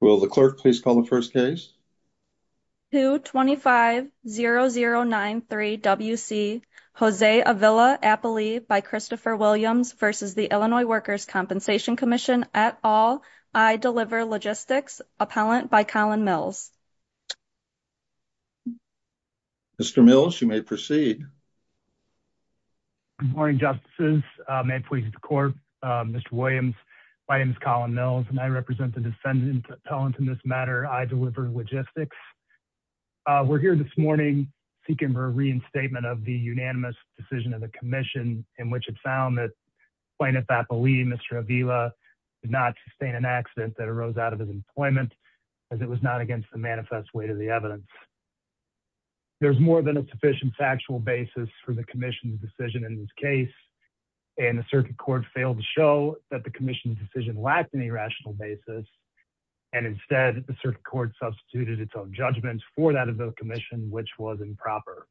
Will the clerk please call the first case? 2-25-0093-WC Jose Avila-Apolli by Christopher Williams v. the Illinois Workers' Compensation Comm'n at all. I deliver logistics, appellant by Colin Mills. Mr. Mills, you may proceed. Good morning, justices, may it please the court, Mr. Williams, my name is Colin Mills and I represent the appellant in this matter. I deliver logistics. Uh, we're here this morning seeking for a reinstatement of the unanimous decision of the commission in which it found that plaintiff Apolli, Mr. Avila, did not sustain an accident that arose out of his employment as it was not against the manifest weight of the evidence. There's more than a sufficient factual basis for the commission's decision in this case and the circuit court failed to show that the commission's decision lacked any rational basis. And instead the circuit court substituted its own judgments for that of the commission, which was improper.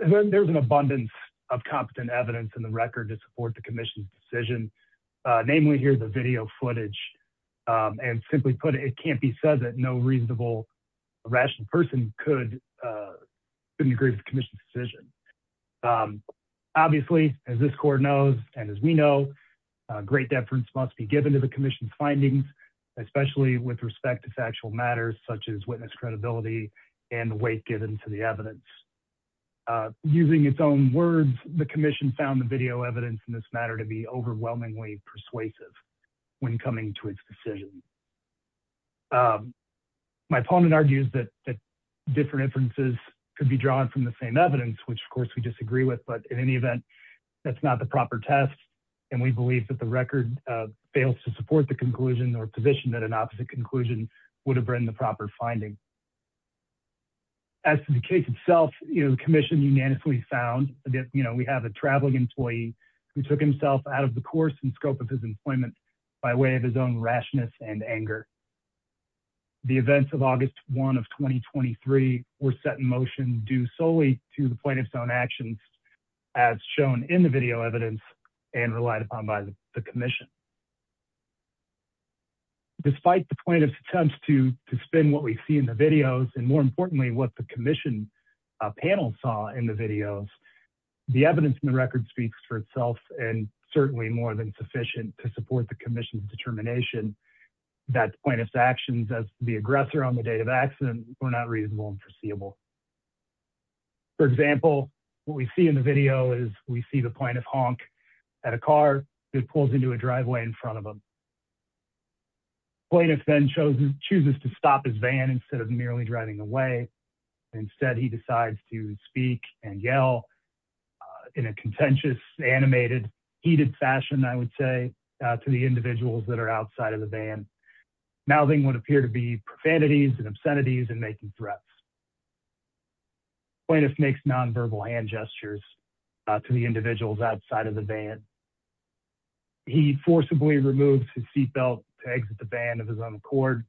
And then there was an abundance of competent evidence in the record to support the commission's decision. Uh, namely here, the video footage, um, and simply put it can't be said that no reasonable rational person could, uh, couldn't agree with the commission's decision. Um, obviously as this court knows, and as we know, a great deference must be given to the commission findings, especially with respect to factual matters, such as witness credibility and weight given to the evidence. Uh, using its own words, the commission found the video evidence in this matter to be overwhelmingly persuasive when coming to its decision. Um, my opponent argues that different inferences could be drawn from the same evidence, which of course we disagree with, but in any event, that's not the proper test. And we believe that the record, uh, fails to support the conclusion or position that an opposite conclusion would have written the proper finding. As to the case itself, you know, the commission unanimously found that, you know, we have a traveling employee who took himself out of the course and scope of his employment by way of his own rashness and anger, the events of August one of 2023 were set in motion due solely to the plaintiff's own actions as shown in the video evidence and relied upon by the commission, despite the plaintiff's attempts to spin what we see in the videos and more importantly, what the commission, uh, panel saw in the videos, the evidence in the record speaks for itself and certainly more than sufficient to support the commission's determination that plaintiff's actions as the aggressor on the date of accident were not reasonable and foreseeable. For example, what we see in the video is we see the plaintiff honk at a car that pulls into a driveway in front of them. Plaintiff then shows him, chooses to stop his van instead of merely driving away. And instead he decides to speak and yell, uh, in a contentious animated, heated fashion, I would say, uh, to the individuals that are outside of the van. Mouthing would appear to be profanities and obscenities and making threats. Plaintiff makes nonverbal hand gestures to the individuals outside of the van. He forcibly removed his seatbelt to exit the band of his own cord.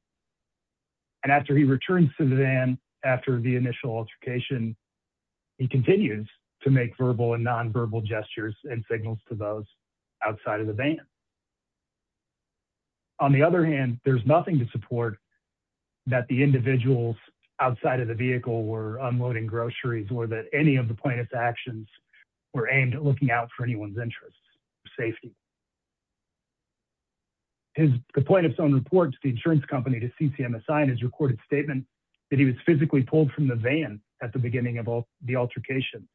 And after he returned to the van, after the initial altercation, he continues to make verbal and nonverbal gestures and signals to those outside of the van. On the other hand, there's nothing to support that the unloading groceries or that any of the plaintiff's actions were aimed at looking out for anyone's interests or safety. His, the plaintiff's own report to the insurance company to CCMSI and his recorded statement that he was physically pulled from the van at the beginning of all the altercation,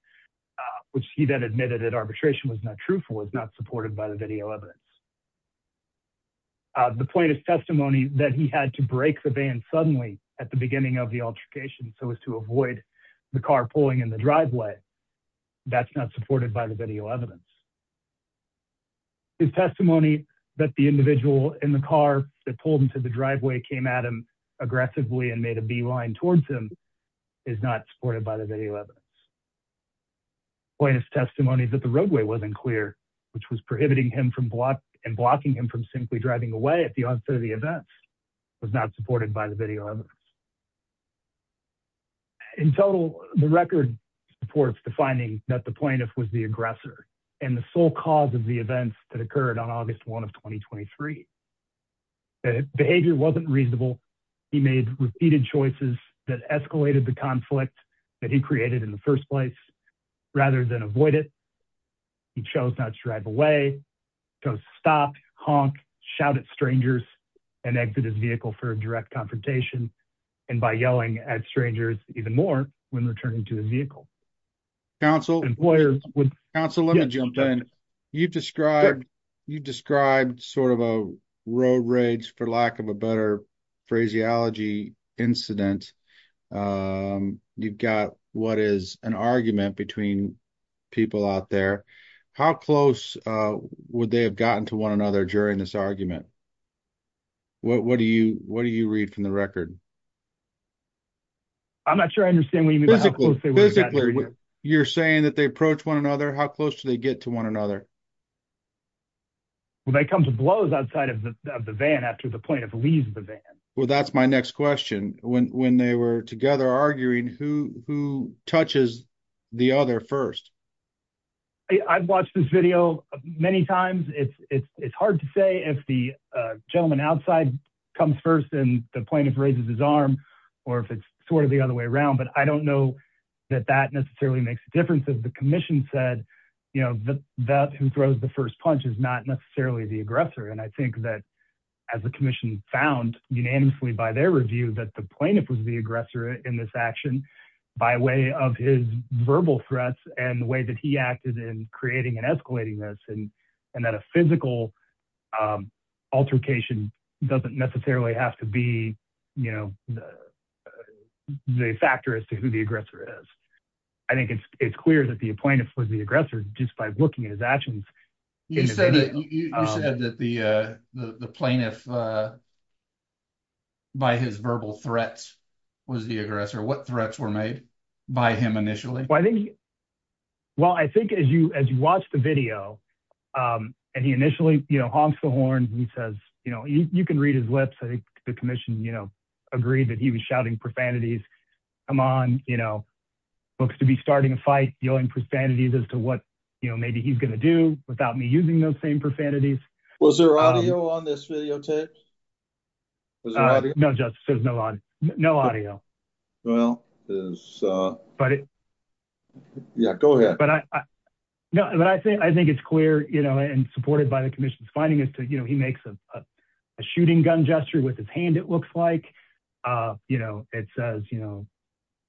which he then admitted that arbitration was not truthful, was not supported by the video evidence. Uh, the plaintiff's testimony that he had to break the van suddenly at the beginning of the altercation. So as to avoid the car pulling in the driveway, that's not supported by the video evidence. His testimony that the individual in the car that pulled into the driveway came at him aggressively and made a beeline towards him is not supported by the video evidence. Plaintiff's testimony that the roadway wasn't clear, which was prohibiting him from block and blocking him from simply driving away at the onset of the events was not supported by the video. In total, the record supports the finding that the plaintiff was the aggressor and the sole cause of the events that occurred on August 1st, 2023, that behavior wasn't reasonable. He made repeated choices that escalated the conflict that he created in the first place rather than avoid it. He chose not to drive away, to stop, honk, shout at strangers and exit his vehicle for a direct confrontation, and by yelling at strangers even more when returning to his vehicle. Counsel, counsel, let me jump in. You've described, you've described sort of a road rage for lack of a better phraseology incident. Um, you've got what is an argument between people out there. How close, uh, would they have gotten to one another during this argument? What, what do you, what do you read from the record? I'm not sure. I understand what you mean. You're saying that they approach one another, how close do they get to one another? Well, they come to blows outside of the van after the plaintiff leaves the van. Well, that's my next question. When, when they were together arguing who, who touches the other first. I I've watched this video many times. It's, it's, it's hard to say if the, uh, gentleman outside comes first and the plaintiff raises his arm or if it's sort of the other way around. But I don't know that that necessarily makes a difference. As the commission said, you know, that that who throws the first punch is not necessarily the aggressor. And I think that as the commission found unanimously by their review, that the plaintiff was the aggressor in this action by way of his verbal threats and the way that he acted in creating and escalating this. And, and that a physical, um, altercation doesn't necessarily have to be, you know, the, the factor as to who the aggressor is, I think it's, it's clear that the plaintiff was the aggressor just by looking at his actions. You said that you said that the, uh, the plaintiff, uh, by his verbal threats was the aggressor, what threats were made by him initially? Well, I think as you, as you watch the video, um, and he initially, you know, honks the horn and he says, you know, you can read his lips. I think the commission, you know, agreed that he was shouting profanities. Come on, you know, books to be starting a fight, yelling profanities as to what, you know, maybe he's going to do without me using those same profanities. Was there audio on this videotape? No justice. There's no, no audio. Well, but yeah, go ahead. No, but I think, I think it's clear, you know, and supported by the commission's finding as to, you know, he makes a shooting gun gesture with his hand, it looks like, uh, you know, it says, you know,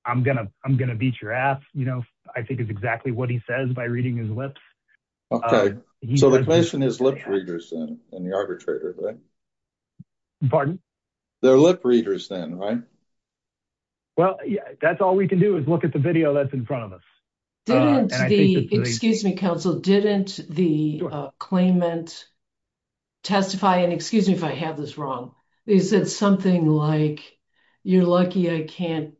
I'm going to, I'm going to beat your ass. You know, I think it's exactly what he says by reading his lips. Okay. So the question is lip readers and the arbitrator, right? Pardon? They're lip readers then, right? Well, yeah, that's all we can do is look at the video that's in front of us. Didn't the, excuse me, counsel, didn't the claimant testify and excuse me, if I have this wrong, they said something like, you're lucky I can't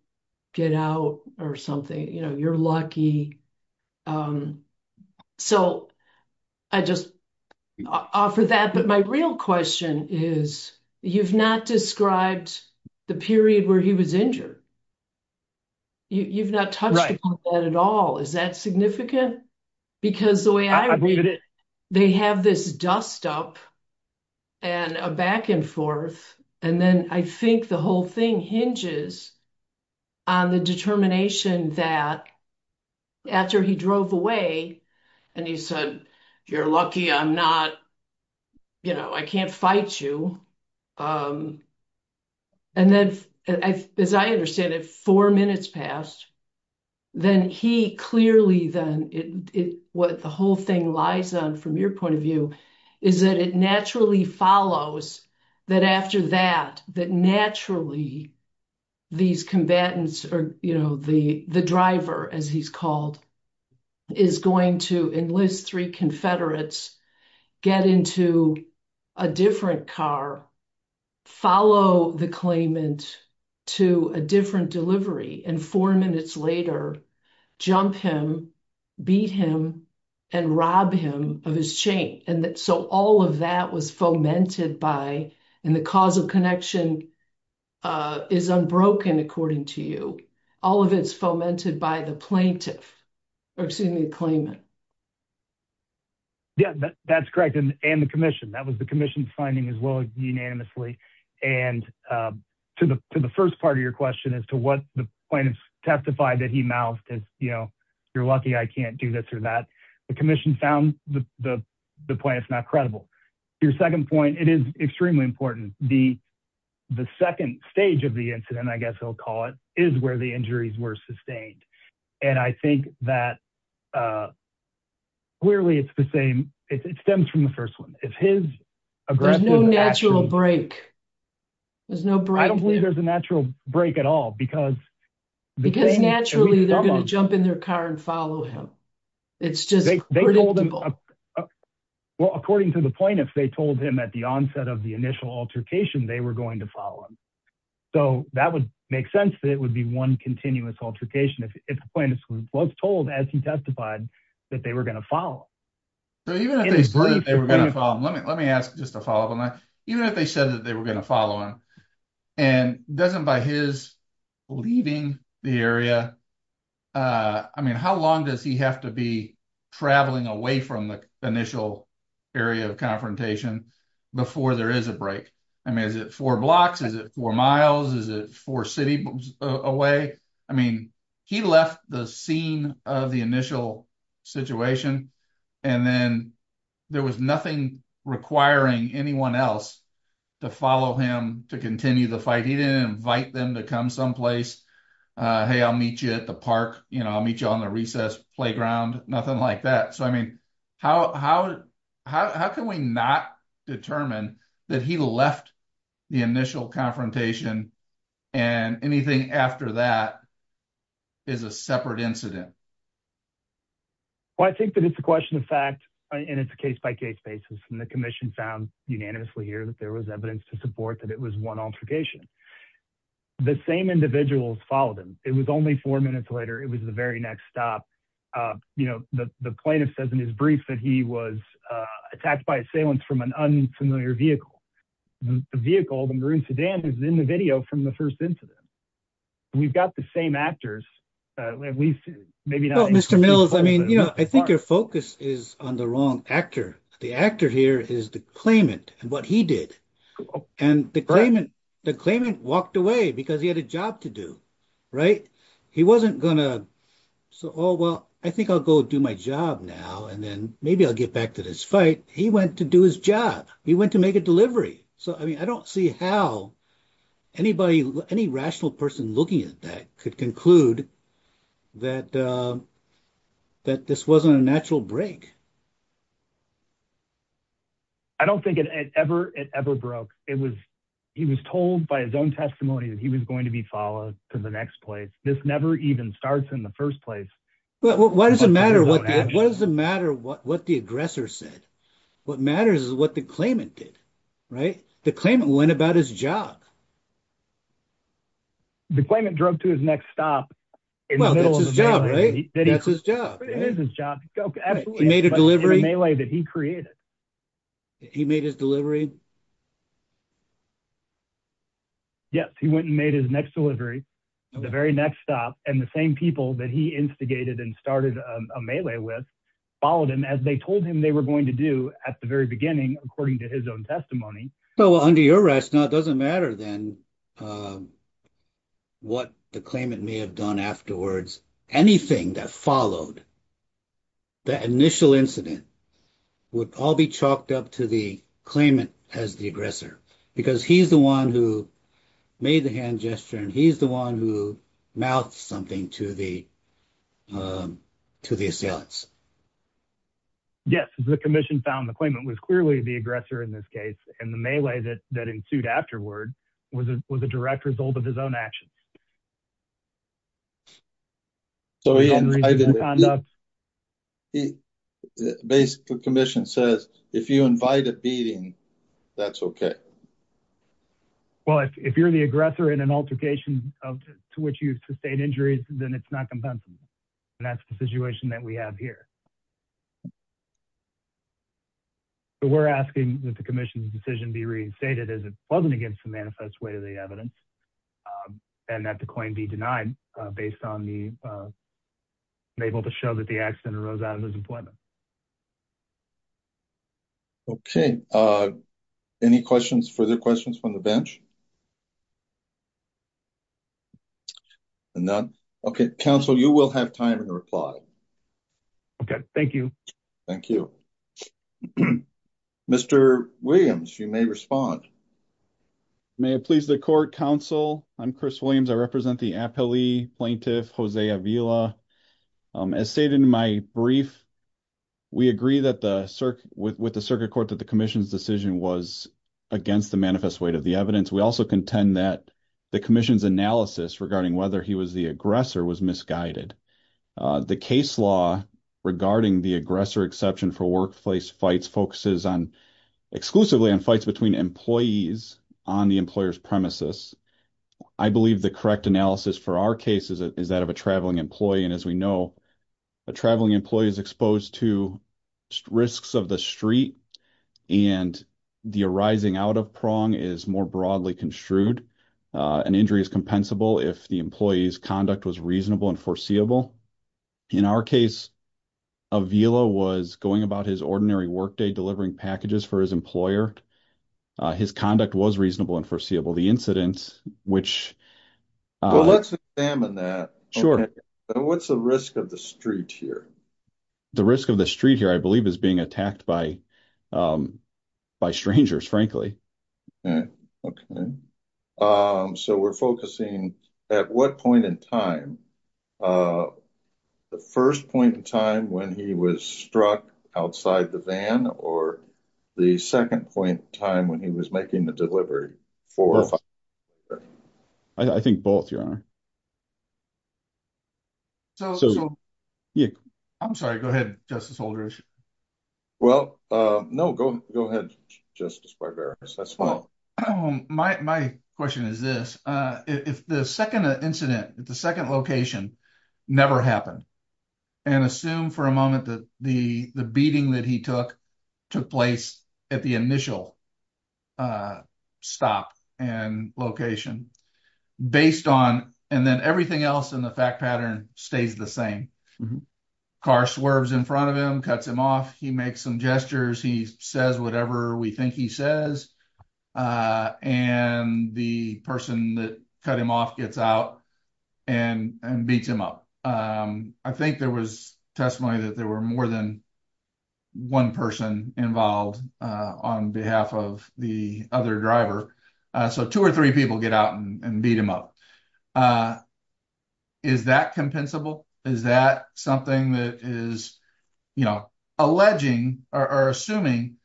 get out or something. You know, you're lucky. Um, so I just offer that. But my real question is you've not described the period where he was injured. You you've not touched on that at all. Is that significant? Because the way I read it, they have this dust up and a back and forth. And then I think the whole thing hinges on the determination that after he drove away and he said, you're lucky I'm not, you know, I can't fight you. Um, and then I, as I understand it, four minutes passed, then he clearly then it, what the whole thing lies on from your point of view is that it naturally follows that after that, that naturally these combatants or, you know, the, the driver, as he's called, is going to enlist three Confederates, get into a different car, follow the claimant to a different delivery and four minutes later, jump him, beat him and rob him of his chain and that, so all of that was fomented by, and the cause of connection, uh, is unbroken. According to you, all of it's fomented by the plaintiff or, excuse me, the claimant. Yeah, that's correct. And, and the commission that was the commission finding as well, unanimously. And, um, to the, to the first part of your question as to what the plaintiffs testified that he mouthed is, you know, you're lucky I can't do this or the commission found the, the, the point it's not credible. Your second point, it is extremely important. The, the second stage of the incident, I guess he'll call it is where the injuries were sustained. And I think that, uh, clearly it's the same. It stems from the first one. If his, there's no natural break. There's no break. I don't believe there's a natural break at all because naturally they're going to jump in their car and follow him. It's just, well, according to the point, if they told him at the onset of the initial altercation, they were going to follow him. So that would make sense that it would be one continuous altercation. If, if the plaintiff was told as he testified that they were going to follow, let me, let me ask just to follow up on that, even if they said that they were going to follow him and doesn't buy his leaving the area. Uh, I mean, how long does he have to be traveling away from the initial area of confrontation before there is a break? I mean, is it four blocks? Is it four miles? Is it four city away? I mean, he left the scene of the initial situation and then there was nothing requiring anyone else to follow him, to continue the fight. He didn't invite them to come someplace. Uh, Hey, I'll meet you at the park. You know, I'll meet you on the recess playground, nothing like that. So, I mean, how, how, how, how can we not determine that he left the initial confrontation and anything after that is a separate incident? Well, I think that it's a question of fact, and it's a case by case basis. And the commission found unanimously here that there was evidence to support that it was one altercation. The same individuals followed him. It was only four minutes later. It was the very next stop. Uh, you know, the, the plaintiff says in his brief that he was, uh, attacked by assailants from an unfamiliar vehicle, the vehicle, the maroon sedan is in the video from the first incident. We've got the same actors, uh, at least maybe not. Mills. I mean, you know, I think your focus is on the wrong actor. The actor here is the claimant and what he did and the claimant, the claimant walked away because he had a job to do, right? He wasn't gonna so, Oh, well, I think I'll go do my job now. And then maybe I'll get back to this fight. He went to do his job. He went to make a delivery. So, I mean, I don't see how anybody, any rational person looking at that could conclude that, uh, that this wasn't a natural break. I don't think it ever, it ever broke. It was, he was told by his own testimony that he was going to be followed to the next place. This never even starts in the first place. Well, why does it matter? What, what does it matter? What, what the aggressor said? What matters is what the claimant did, right? The claimant went about his job. The claimant drove to his next stop. Well, that's his job, right? That's his job. It is his job. Okay. He made a delivery that he created. He made his delivery. Yes. He went and made his next delivery, the very next stop and the same people that he instigated and started a melee with, followed him as they told him they were going to do at the very beginning, according to his own testimony. So under your rationale, it doesn't matter then, um, what the claimant may have done afterwards, anything that followed that initial incident would all be chalked up to the claimant as the aggressor, right? Because he's the one who made the hand gesture and he's the one who mouthed something to the, um, to the assailants. Yes. The commission found the claimant was clearly the aggressor in this case. And the melee that, that ensued afterward was a, was a direct result of his own actions. So he basically commission says if you invite a beating, that's okay. Well, if you're the aggressor in an altercation of, to which you sustained injuries, then it's not compensable. And that's the situation that we have here. So we're asking that the commission's decision be reinstated as it wasn't against the manifest way of the evidence, um, and that the claim be denied, uh, based on the, uh, unable to show that the accident arose out of his employment. Okay. Uh, any questions, further questions from the bench? None. Okay. Counsel, you will have time to reply. Okay. Thank you. Thank you, Mr. Williams. You may respond. May it please the court counsel. I'm Chris Williams. I represent the appellee plaintiff, Jose Avila. Um, as stated in my brief, we agree that the circ with, with the circuit court, that the commission's decision was against the manifest way to the evidence. We also contend that the commission's analysis regarding whether he was the aggressor was misguided, uh, the case law regarding the aggressor exception for workplace fights focuses on exclusively on fights between employees on the employer's premises. I believe the correct analysis for our cases is that of a traveling employee. And as we know, a traveling employee is exposed to risks of the street and the arising out of prong is more broadly construed. Uh, an injury is compensable. If the employee's conduct was reasonable and foreseeable. In our case, Avila was going about his ordinary workday, delivering packages for his employer. Uh, his conduct was reasonable and foreseeable the incidents, which let's examine that. Sure. And what's the risk of the street here? The risk of the street here, I believe is being attacked by, um, by strangers, frankly. Okay. Um, so we're focusing at what point in time, uh, the first point in time when he was struck outside the van or the second point in time when he was making the delivery for, I think both your honor. So, so yeah, I'm sorry, go ahead, Justice Holder issue. Well, uh, no, go, go ahead. Justice Barbera. My question is this, uh, if the second incident at the second location never happened and assume for a moment that the, the beating that he took, took place at the initial, uh, stop and location based on, and then everything else in the fact pattern stays the same car swerves in front of him, cuts him off, he makes some gestures, he says whatever we think he says, uh, and the person that cut him off gets out and beats him up, um, I think there was testimony that there were more than one person involved, uh, on behalf of the other driver, uh, so two or three people get out and beat him up. Uh, is that compensable? Is that something that is, you know, alleging or assuming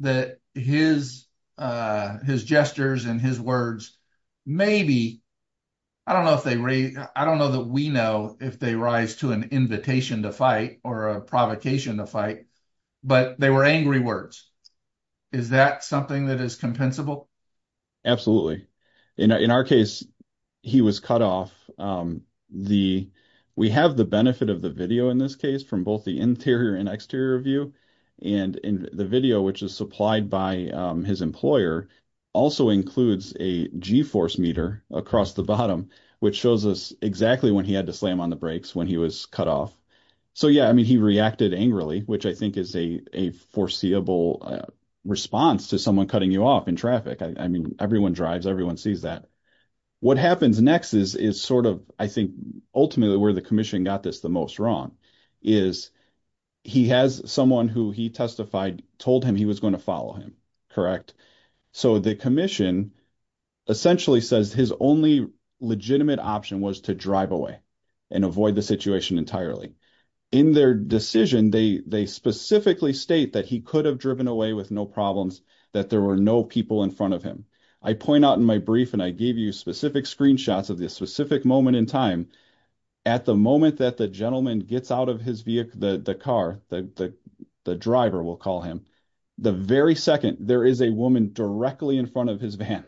that his, uh, his gestures and his words, maybe, I don't know if they, I don't know that we know if they rise to an invitation to fight or a provocation to fight, but they were angry words, is that something that is compensable? In our, in our case, he was cut off. Um, the, we have the benefit of the video in this case from both the interior and exterior view and in the video, which is supplied by, um, his employer also includes a G force meter across the bottom, which shows us exactly when he had to slam on the brakes when he was cut off. So yeah, I mean, he reacted angrily, which I think is a, a foreseeable response to someone cutting you off in traffic. I mean, everyone drives, everyone sees that. What happens next is, is sort of, I think ultimately where the commission got this the most wrong is he has someone who he testified, told him he was going to follow him, correct? So the commission essentially says his only legitimate option was to drive away. And avoid the situation entirely in their decision. They, they specifically state that he could have driven away with no problems, that there were no people in front of him. I point out in my brief and I gave you specific screenshots of this specific moment in time, at the moment that the gentleman gets out of his vehicle, the, the car, the, the, the driver will call him. The very second there is a woman directly in front of his van.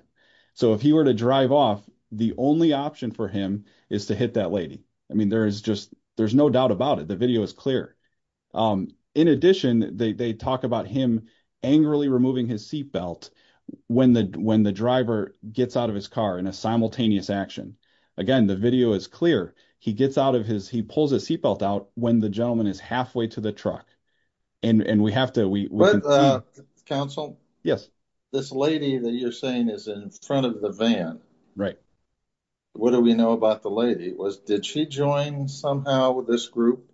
So if he were to drive off, the only option for him is to hit that lady. I mean, there is just, there's no doubt about it. The video is clear. In addition, they, they talk about him angrily removing his seatbelt when the, when the driver gets out of his car in a simultaneous action. Again, the video is clear. He gets out of his, he pulls a seatbelt out when the gentleman is halfway to the truck and, and we have to, we, we. Counsel. This lady that you're saying is in front of the van, right? What do we know about the lady? It was, did she join somehow with this group?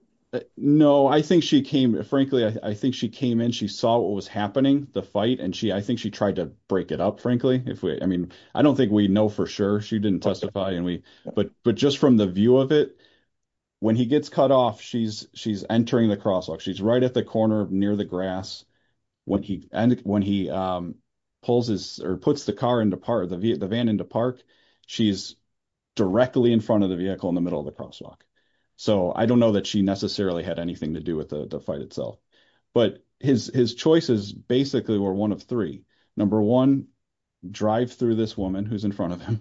No, I think she came, frankly, I think she came in, she saw what was happening, the fight and she, I think she tried to break it up, frankly, if we, I mean, I don't think we know for sure. She didn't testify and we, but, but just from the view of it, when he gets cut off, she's, she's entering the crosswalk. She's right at the corner of near the grass when he, and when he pulls his or puts the car into part of the V the van into park, she's directly in front of the vehicle in the middle of the crosswalk. So I don't know that she necessarily had anything to do with the fight itself, but his, his choices basically were one of three. Number one, drive through this woman who's in front of him.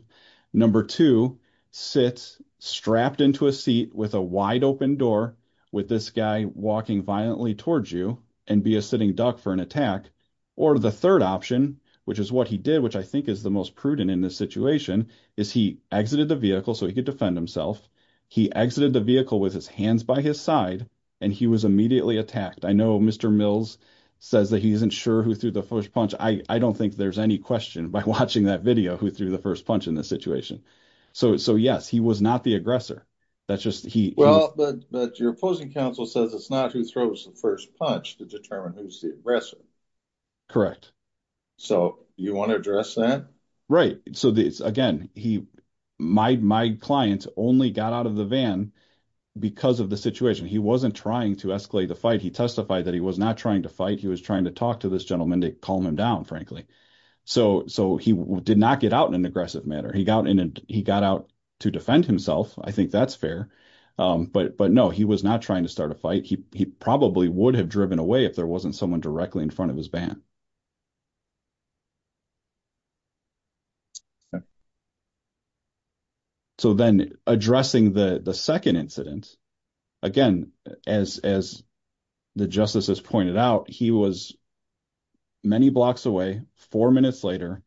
Number two, sits strapped into a seat with a wide open door with this guy walking violently towards you and be a sitting duck for an attack. Or the third option, which is what he did, which I think is the most prudent in this situation is he exited the vehicle so he could defend himself. He exited the vehicle with his hands by his side and he was immediately attacked. I know Mr. Mills says that he isn't sure who threw the first punch. I don't think there's any question by watching that video who threw the first punch in this situation. So, so yes, he was not the aggressor. That's just he, but your opposing counsel says it's not who throws the first punch to determine who's the aggressor. So you want to address that? Right. So this, again, he, my, my clients only got out of the van because of the situation. He wasn't trying to escalate the fight. He testified that he was not trying to fight. He was trying to talk to this gentleman to calm him down, frankly. So, so he did not get out in an aggressive manner. He got in and he got out to defend himself. I think that's fair. But, but no, he was not trying to start a fight. He, he probably would have driven away if there wasn't someone directly in front of his van. So then addressing the second incident, again, as, as the justices pointed out, he was many blocks away, four minutes later,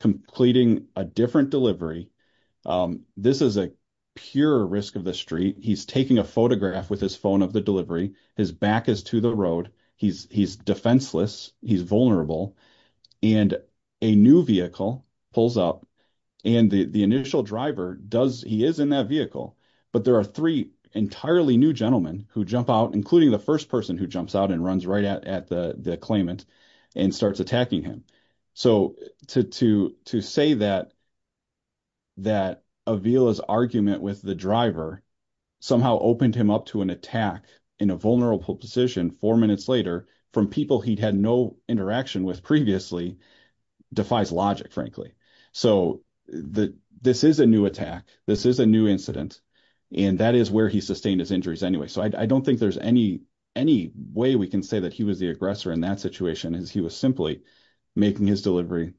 completing a different delivery. This is a pure risk of the street. He's taking a photograph with his phone of the delivery. His back is to the road. He's, he's defenseless. He's vulnerable. And a new vehicle pulls up and the initial driver does, he is in that vehicle, but there are three entirely new gentlemen who jump out, including the first person who jumps out and runs right at, at the, the claimant and starts attacking him. So to, to, to say that, that Avila's argument with the driver somehow opened him up to an attack in a vulnerable position four minutes later from people he'd had no interaction with previously defies logic, frankly. So the, this is a new attack. This is a new incident and that is where he sustained his injuries anyway. So I don't think there's any, any way we can say that he was the aggressor in that situation is he was simply making his delivery,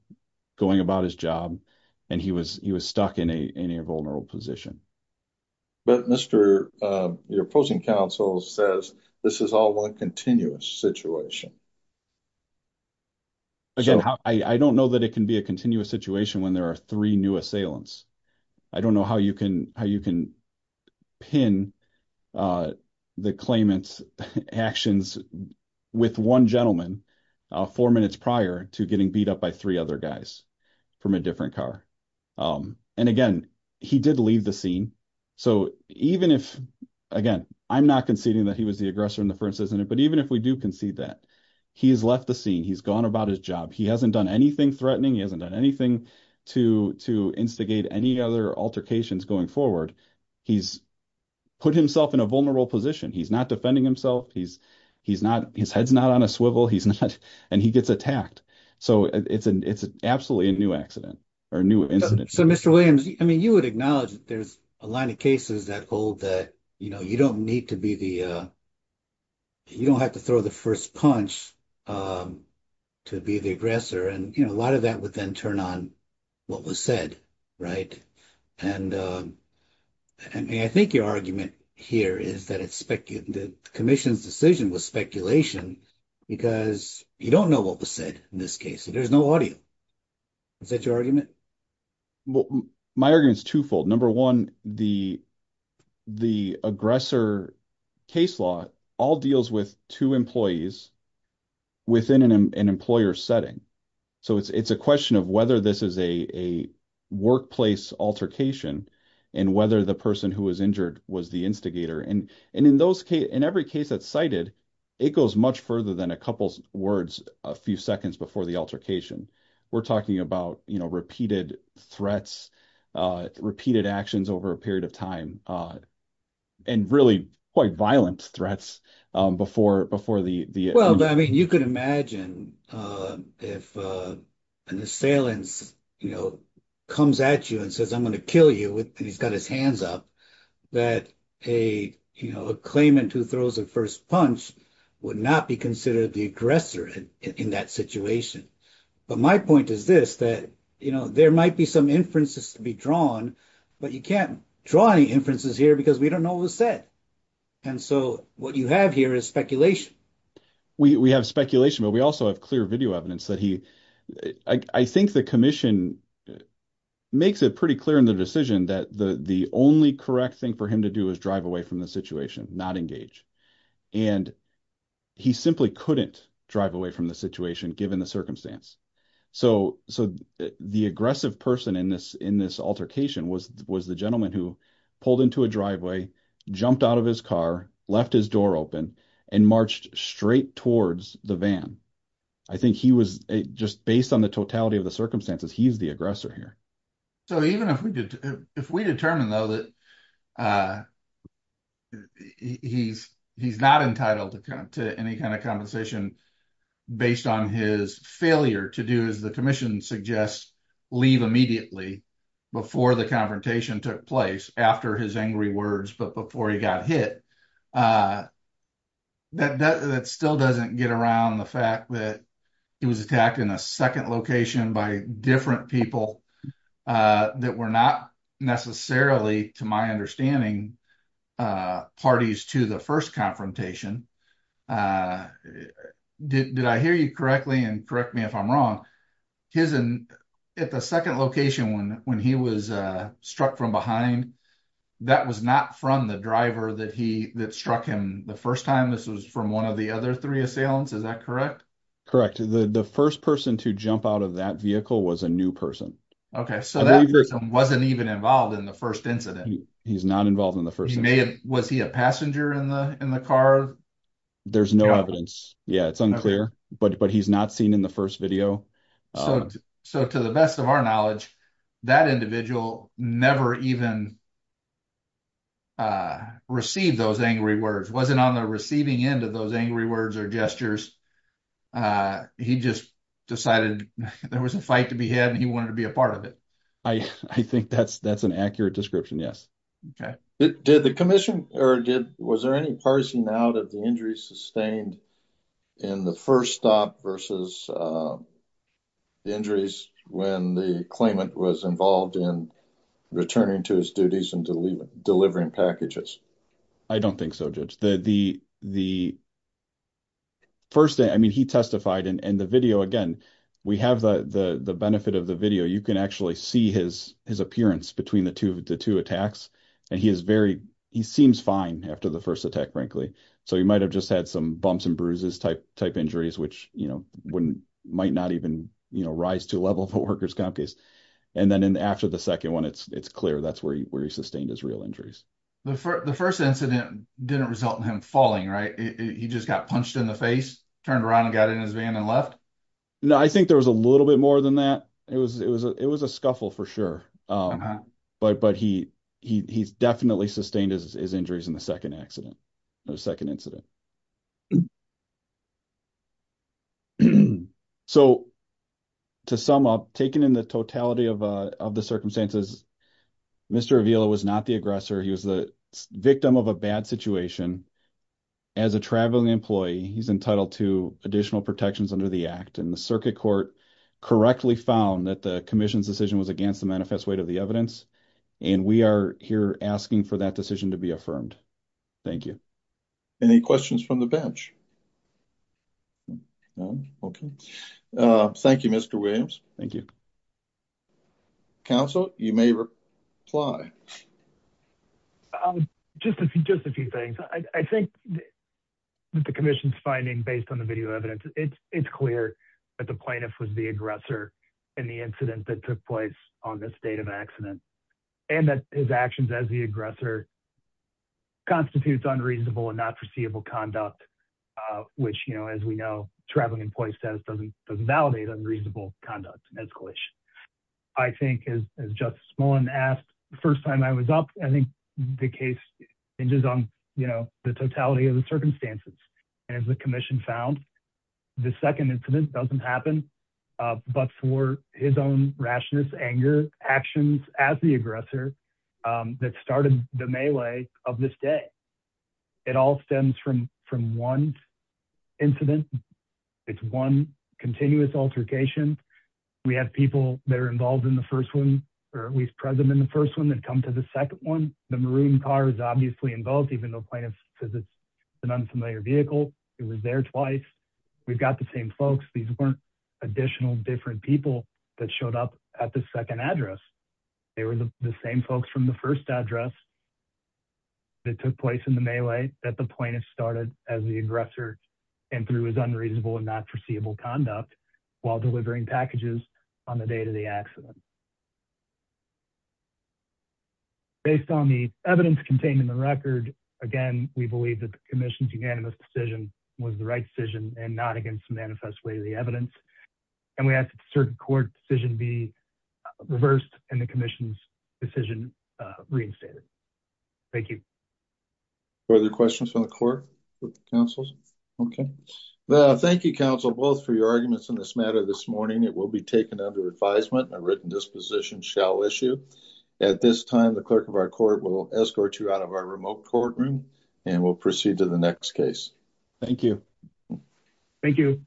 going about his job and he was, he was stuck in a, in a vulnerable position. But Mr. your opposing counsel says this is all one continuous situation. Again, I don't know that it can be a continuous situation when there are three new assailants. I don't know how you can, how you can pin the claimant's actions with one gentleman four minutes prior to getting beat up by three other guys from a different car. And again, he did leave the scene. So even if, again, I'm not conceding that he was the aggressor in the first incident, but even if we do concede that, he has left the scene. He's gone about his job. He hasn't done anything threatening. He hasn't done anything to, to instigate any other altercations going forward. He's put himself in a vulnerable position. He's not defending himself. He's, he's not, his head's not on a swivel. He's not, and he gets attacked. So it's an, it's absolutely a new accident or new incident. So Mr. Williams, I mean, you would acknowledge that there's a line of cases that hold that, you know, you don't need to be the, you don't have to throw the first punch, to be the aggressor. And, you know, a lot of that would then turn on what was said. Right. And, I mean, I think your argument here is that it's speculative, the commission's decision was speculation because you don't know what was said in this case. So there's no audio. Is that your argument? Well, my argument is twofold. Number one, the, the aggressor case law all deals with two employees within an employer setting. So it's, it's a question of whether this is a, a workplace altercation and whether the person who was injured was the instigator. And, and in those cases, in every case that's cited, it goes much further than a couple of words, a few seconds before the altercation. We're talking about, you know, repeated threats, repeated actions over a period of time, and really quite violent threats before, before the, the. Well, I mean, you could imagine if an assailant, you know, comes at you and says, I'm going to kill you with, and he's got his hands up that a, you know, a claimant who throws a first punch would not be considered the aggressor in that situation. But my point is this, that, you know, there might be some inferences to be drawn, but you can't draw any inferences here because we don't know what was said. And so what you have here is speculation. We have speculation, but we also have clear video evidence that he, I think the mission makes it pretty clear in the decision that the, the only correct thing for him to do is drive away from the situation, not engage. And he simply couldn't drive away from the situation given the circumstance. So, so the aggressive person in this, in this altercation was, was the gentleman who pulled into a driveway, jumped out of his car, left his door open and marched straight towards the van. I think he was just based on the totality of the circumstances. He's the aggressor here. So even if we did, if we determined though, that he's, he's not entitled to any kind of compensation based on his failure to do as the commission suggests, leave immediately before the confrontation took place after his angry words, but before he got hit, that, that still doesn't get around the fact that he was attacked in a second location by different people that were not necessarily to my understanding parties to the first confrontation. Did, did I hear you correctly? And correct me if I'm wrong, his, at the second location, when, when he was struck from behind, that was not from the driver that he, that struck him the first time. This was from one of the other three assailants. Is that correct? The, the first person to jump out of that vehicle was a new person. Okay. So that person wasn't even involved in the first incident. He's not involved in the first, was he a passenger in the, in the car? There's no evidence. Yeah. It's unclear, but, but he's not seen in the first video. So to the best of our knowledge, that individual never even, uh, received those angry words, wasn't on the receiving end of those angry words or gestures. Uh, he just decided there was a fight to be had and he wanted to be a part of it. I, I think that's, that's an accurate description. Okay. Did the commission or did, was there any parsing out of the injuries sustained in the first stop versus, uh, the injuries when the claimant was involved in returning to his duties and delivering packages? I don't think so. Judge the, the, the first day, I mean, he testified in the video. Again, we have the, the, the benefit of the video. You can actually see his, his appearance between the two of the two attacks. And he is very, he seems fine after the first attack, frankly. So he might've just had some bumps and bruises type type injuries, which, you know, wouldn't, might not even, you know, rise to a level of a worker's comp case. And then in the, after the second one, it's, it's clear that's where he, where he sustained his real injuries. The first, the first incident didn't result in him falling, right? He just got punched in the face, turned around and got in his van and left. No, I think there was a little bit more than that. It was, it was a, it was a scuffle for sure. Um, but, but he, he, he's definitely sustained his injuries in the second accident, the second incident. So to sum up, taken in the totality of, uh, of the circumstances, Mr. Avila was not the aggressor. He was the victim of a bad situation. As a traveling employee, he's entitled to additional protections under the act. And the circuit court correctly found that the commission's decision was against the manifest weight of the evidence. And we are here asking for that decision to be affirmed. Thank you. Any questions from the bench? No. Okay. Uh, thank you, Mr. Williams. Thank you. Counsel, you may reply. Just a few, just a few things. I think that the commission's finding based on the video evidence, it's, it's clear that the plaintiff was the aggressor and the incident that took place on this date of accident and that his actions as the aggressor constitutes unreasonable and not foreseeable conduct, uh, which, you know, as we know, traveling employee status doesn't, doesn't validate unreasonable conduct and escalation. I think as, as just small and asked the first time I was up, I think the case hinges on, you know, the totality of the circumstances and as the commission found the second incident doesn't happen, uh, but for his own rationals, anger actions as the aggressor, um, that started the melee of this day. It all stems from, from one incident. It's one continuous altercation. We have people that are involved in the first one, or at least present in the first one that come to the second one. The maroon car is obviously involved, even though plaintiff says it's an unfamiliar vehicle. It was there twice. We've got the same folks. These weren't additional different people that showed up at the second address. They were the same folks from the first address that took place in the melee that the plaintiff started as the aggressor and through his unreasonable and not foreseeable conduct while delivering packages on the day to the accident. Based on the evidence contained in the record, again, we believe that the commission's unanimous decision was the right decision and not against manifest way of the evidence. And we have certain court decision be reversed and the commission's decision, uh, reinstated. Thank you. Are there questions from the court with the councils? Okay. Thank you, counsel, both for your arguments in this matter this morning. It will be taken under advisement and a written disposition shall issue at this time, the clerk of our court will escort you out of our remote courtroom and we'll proceed to the next case. Thank you. Thank you.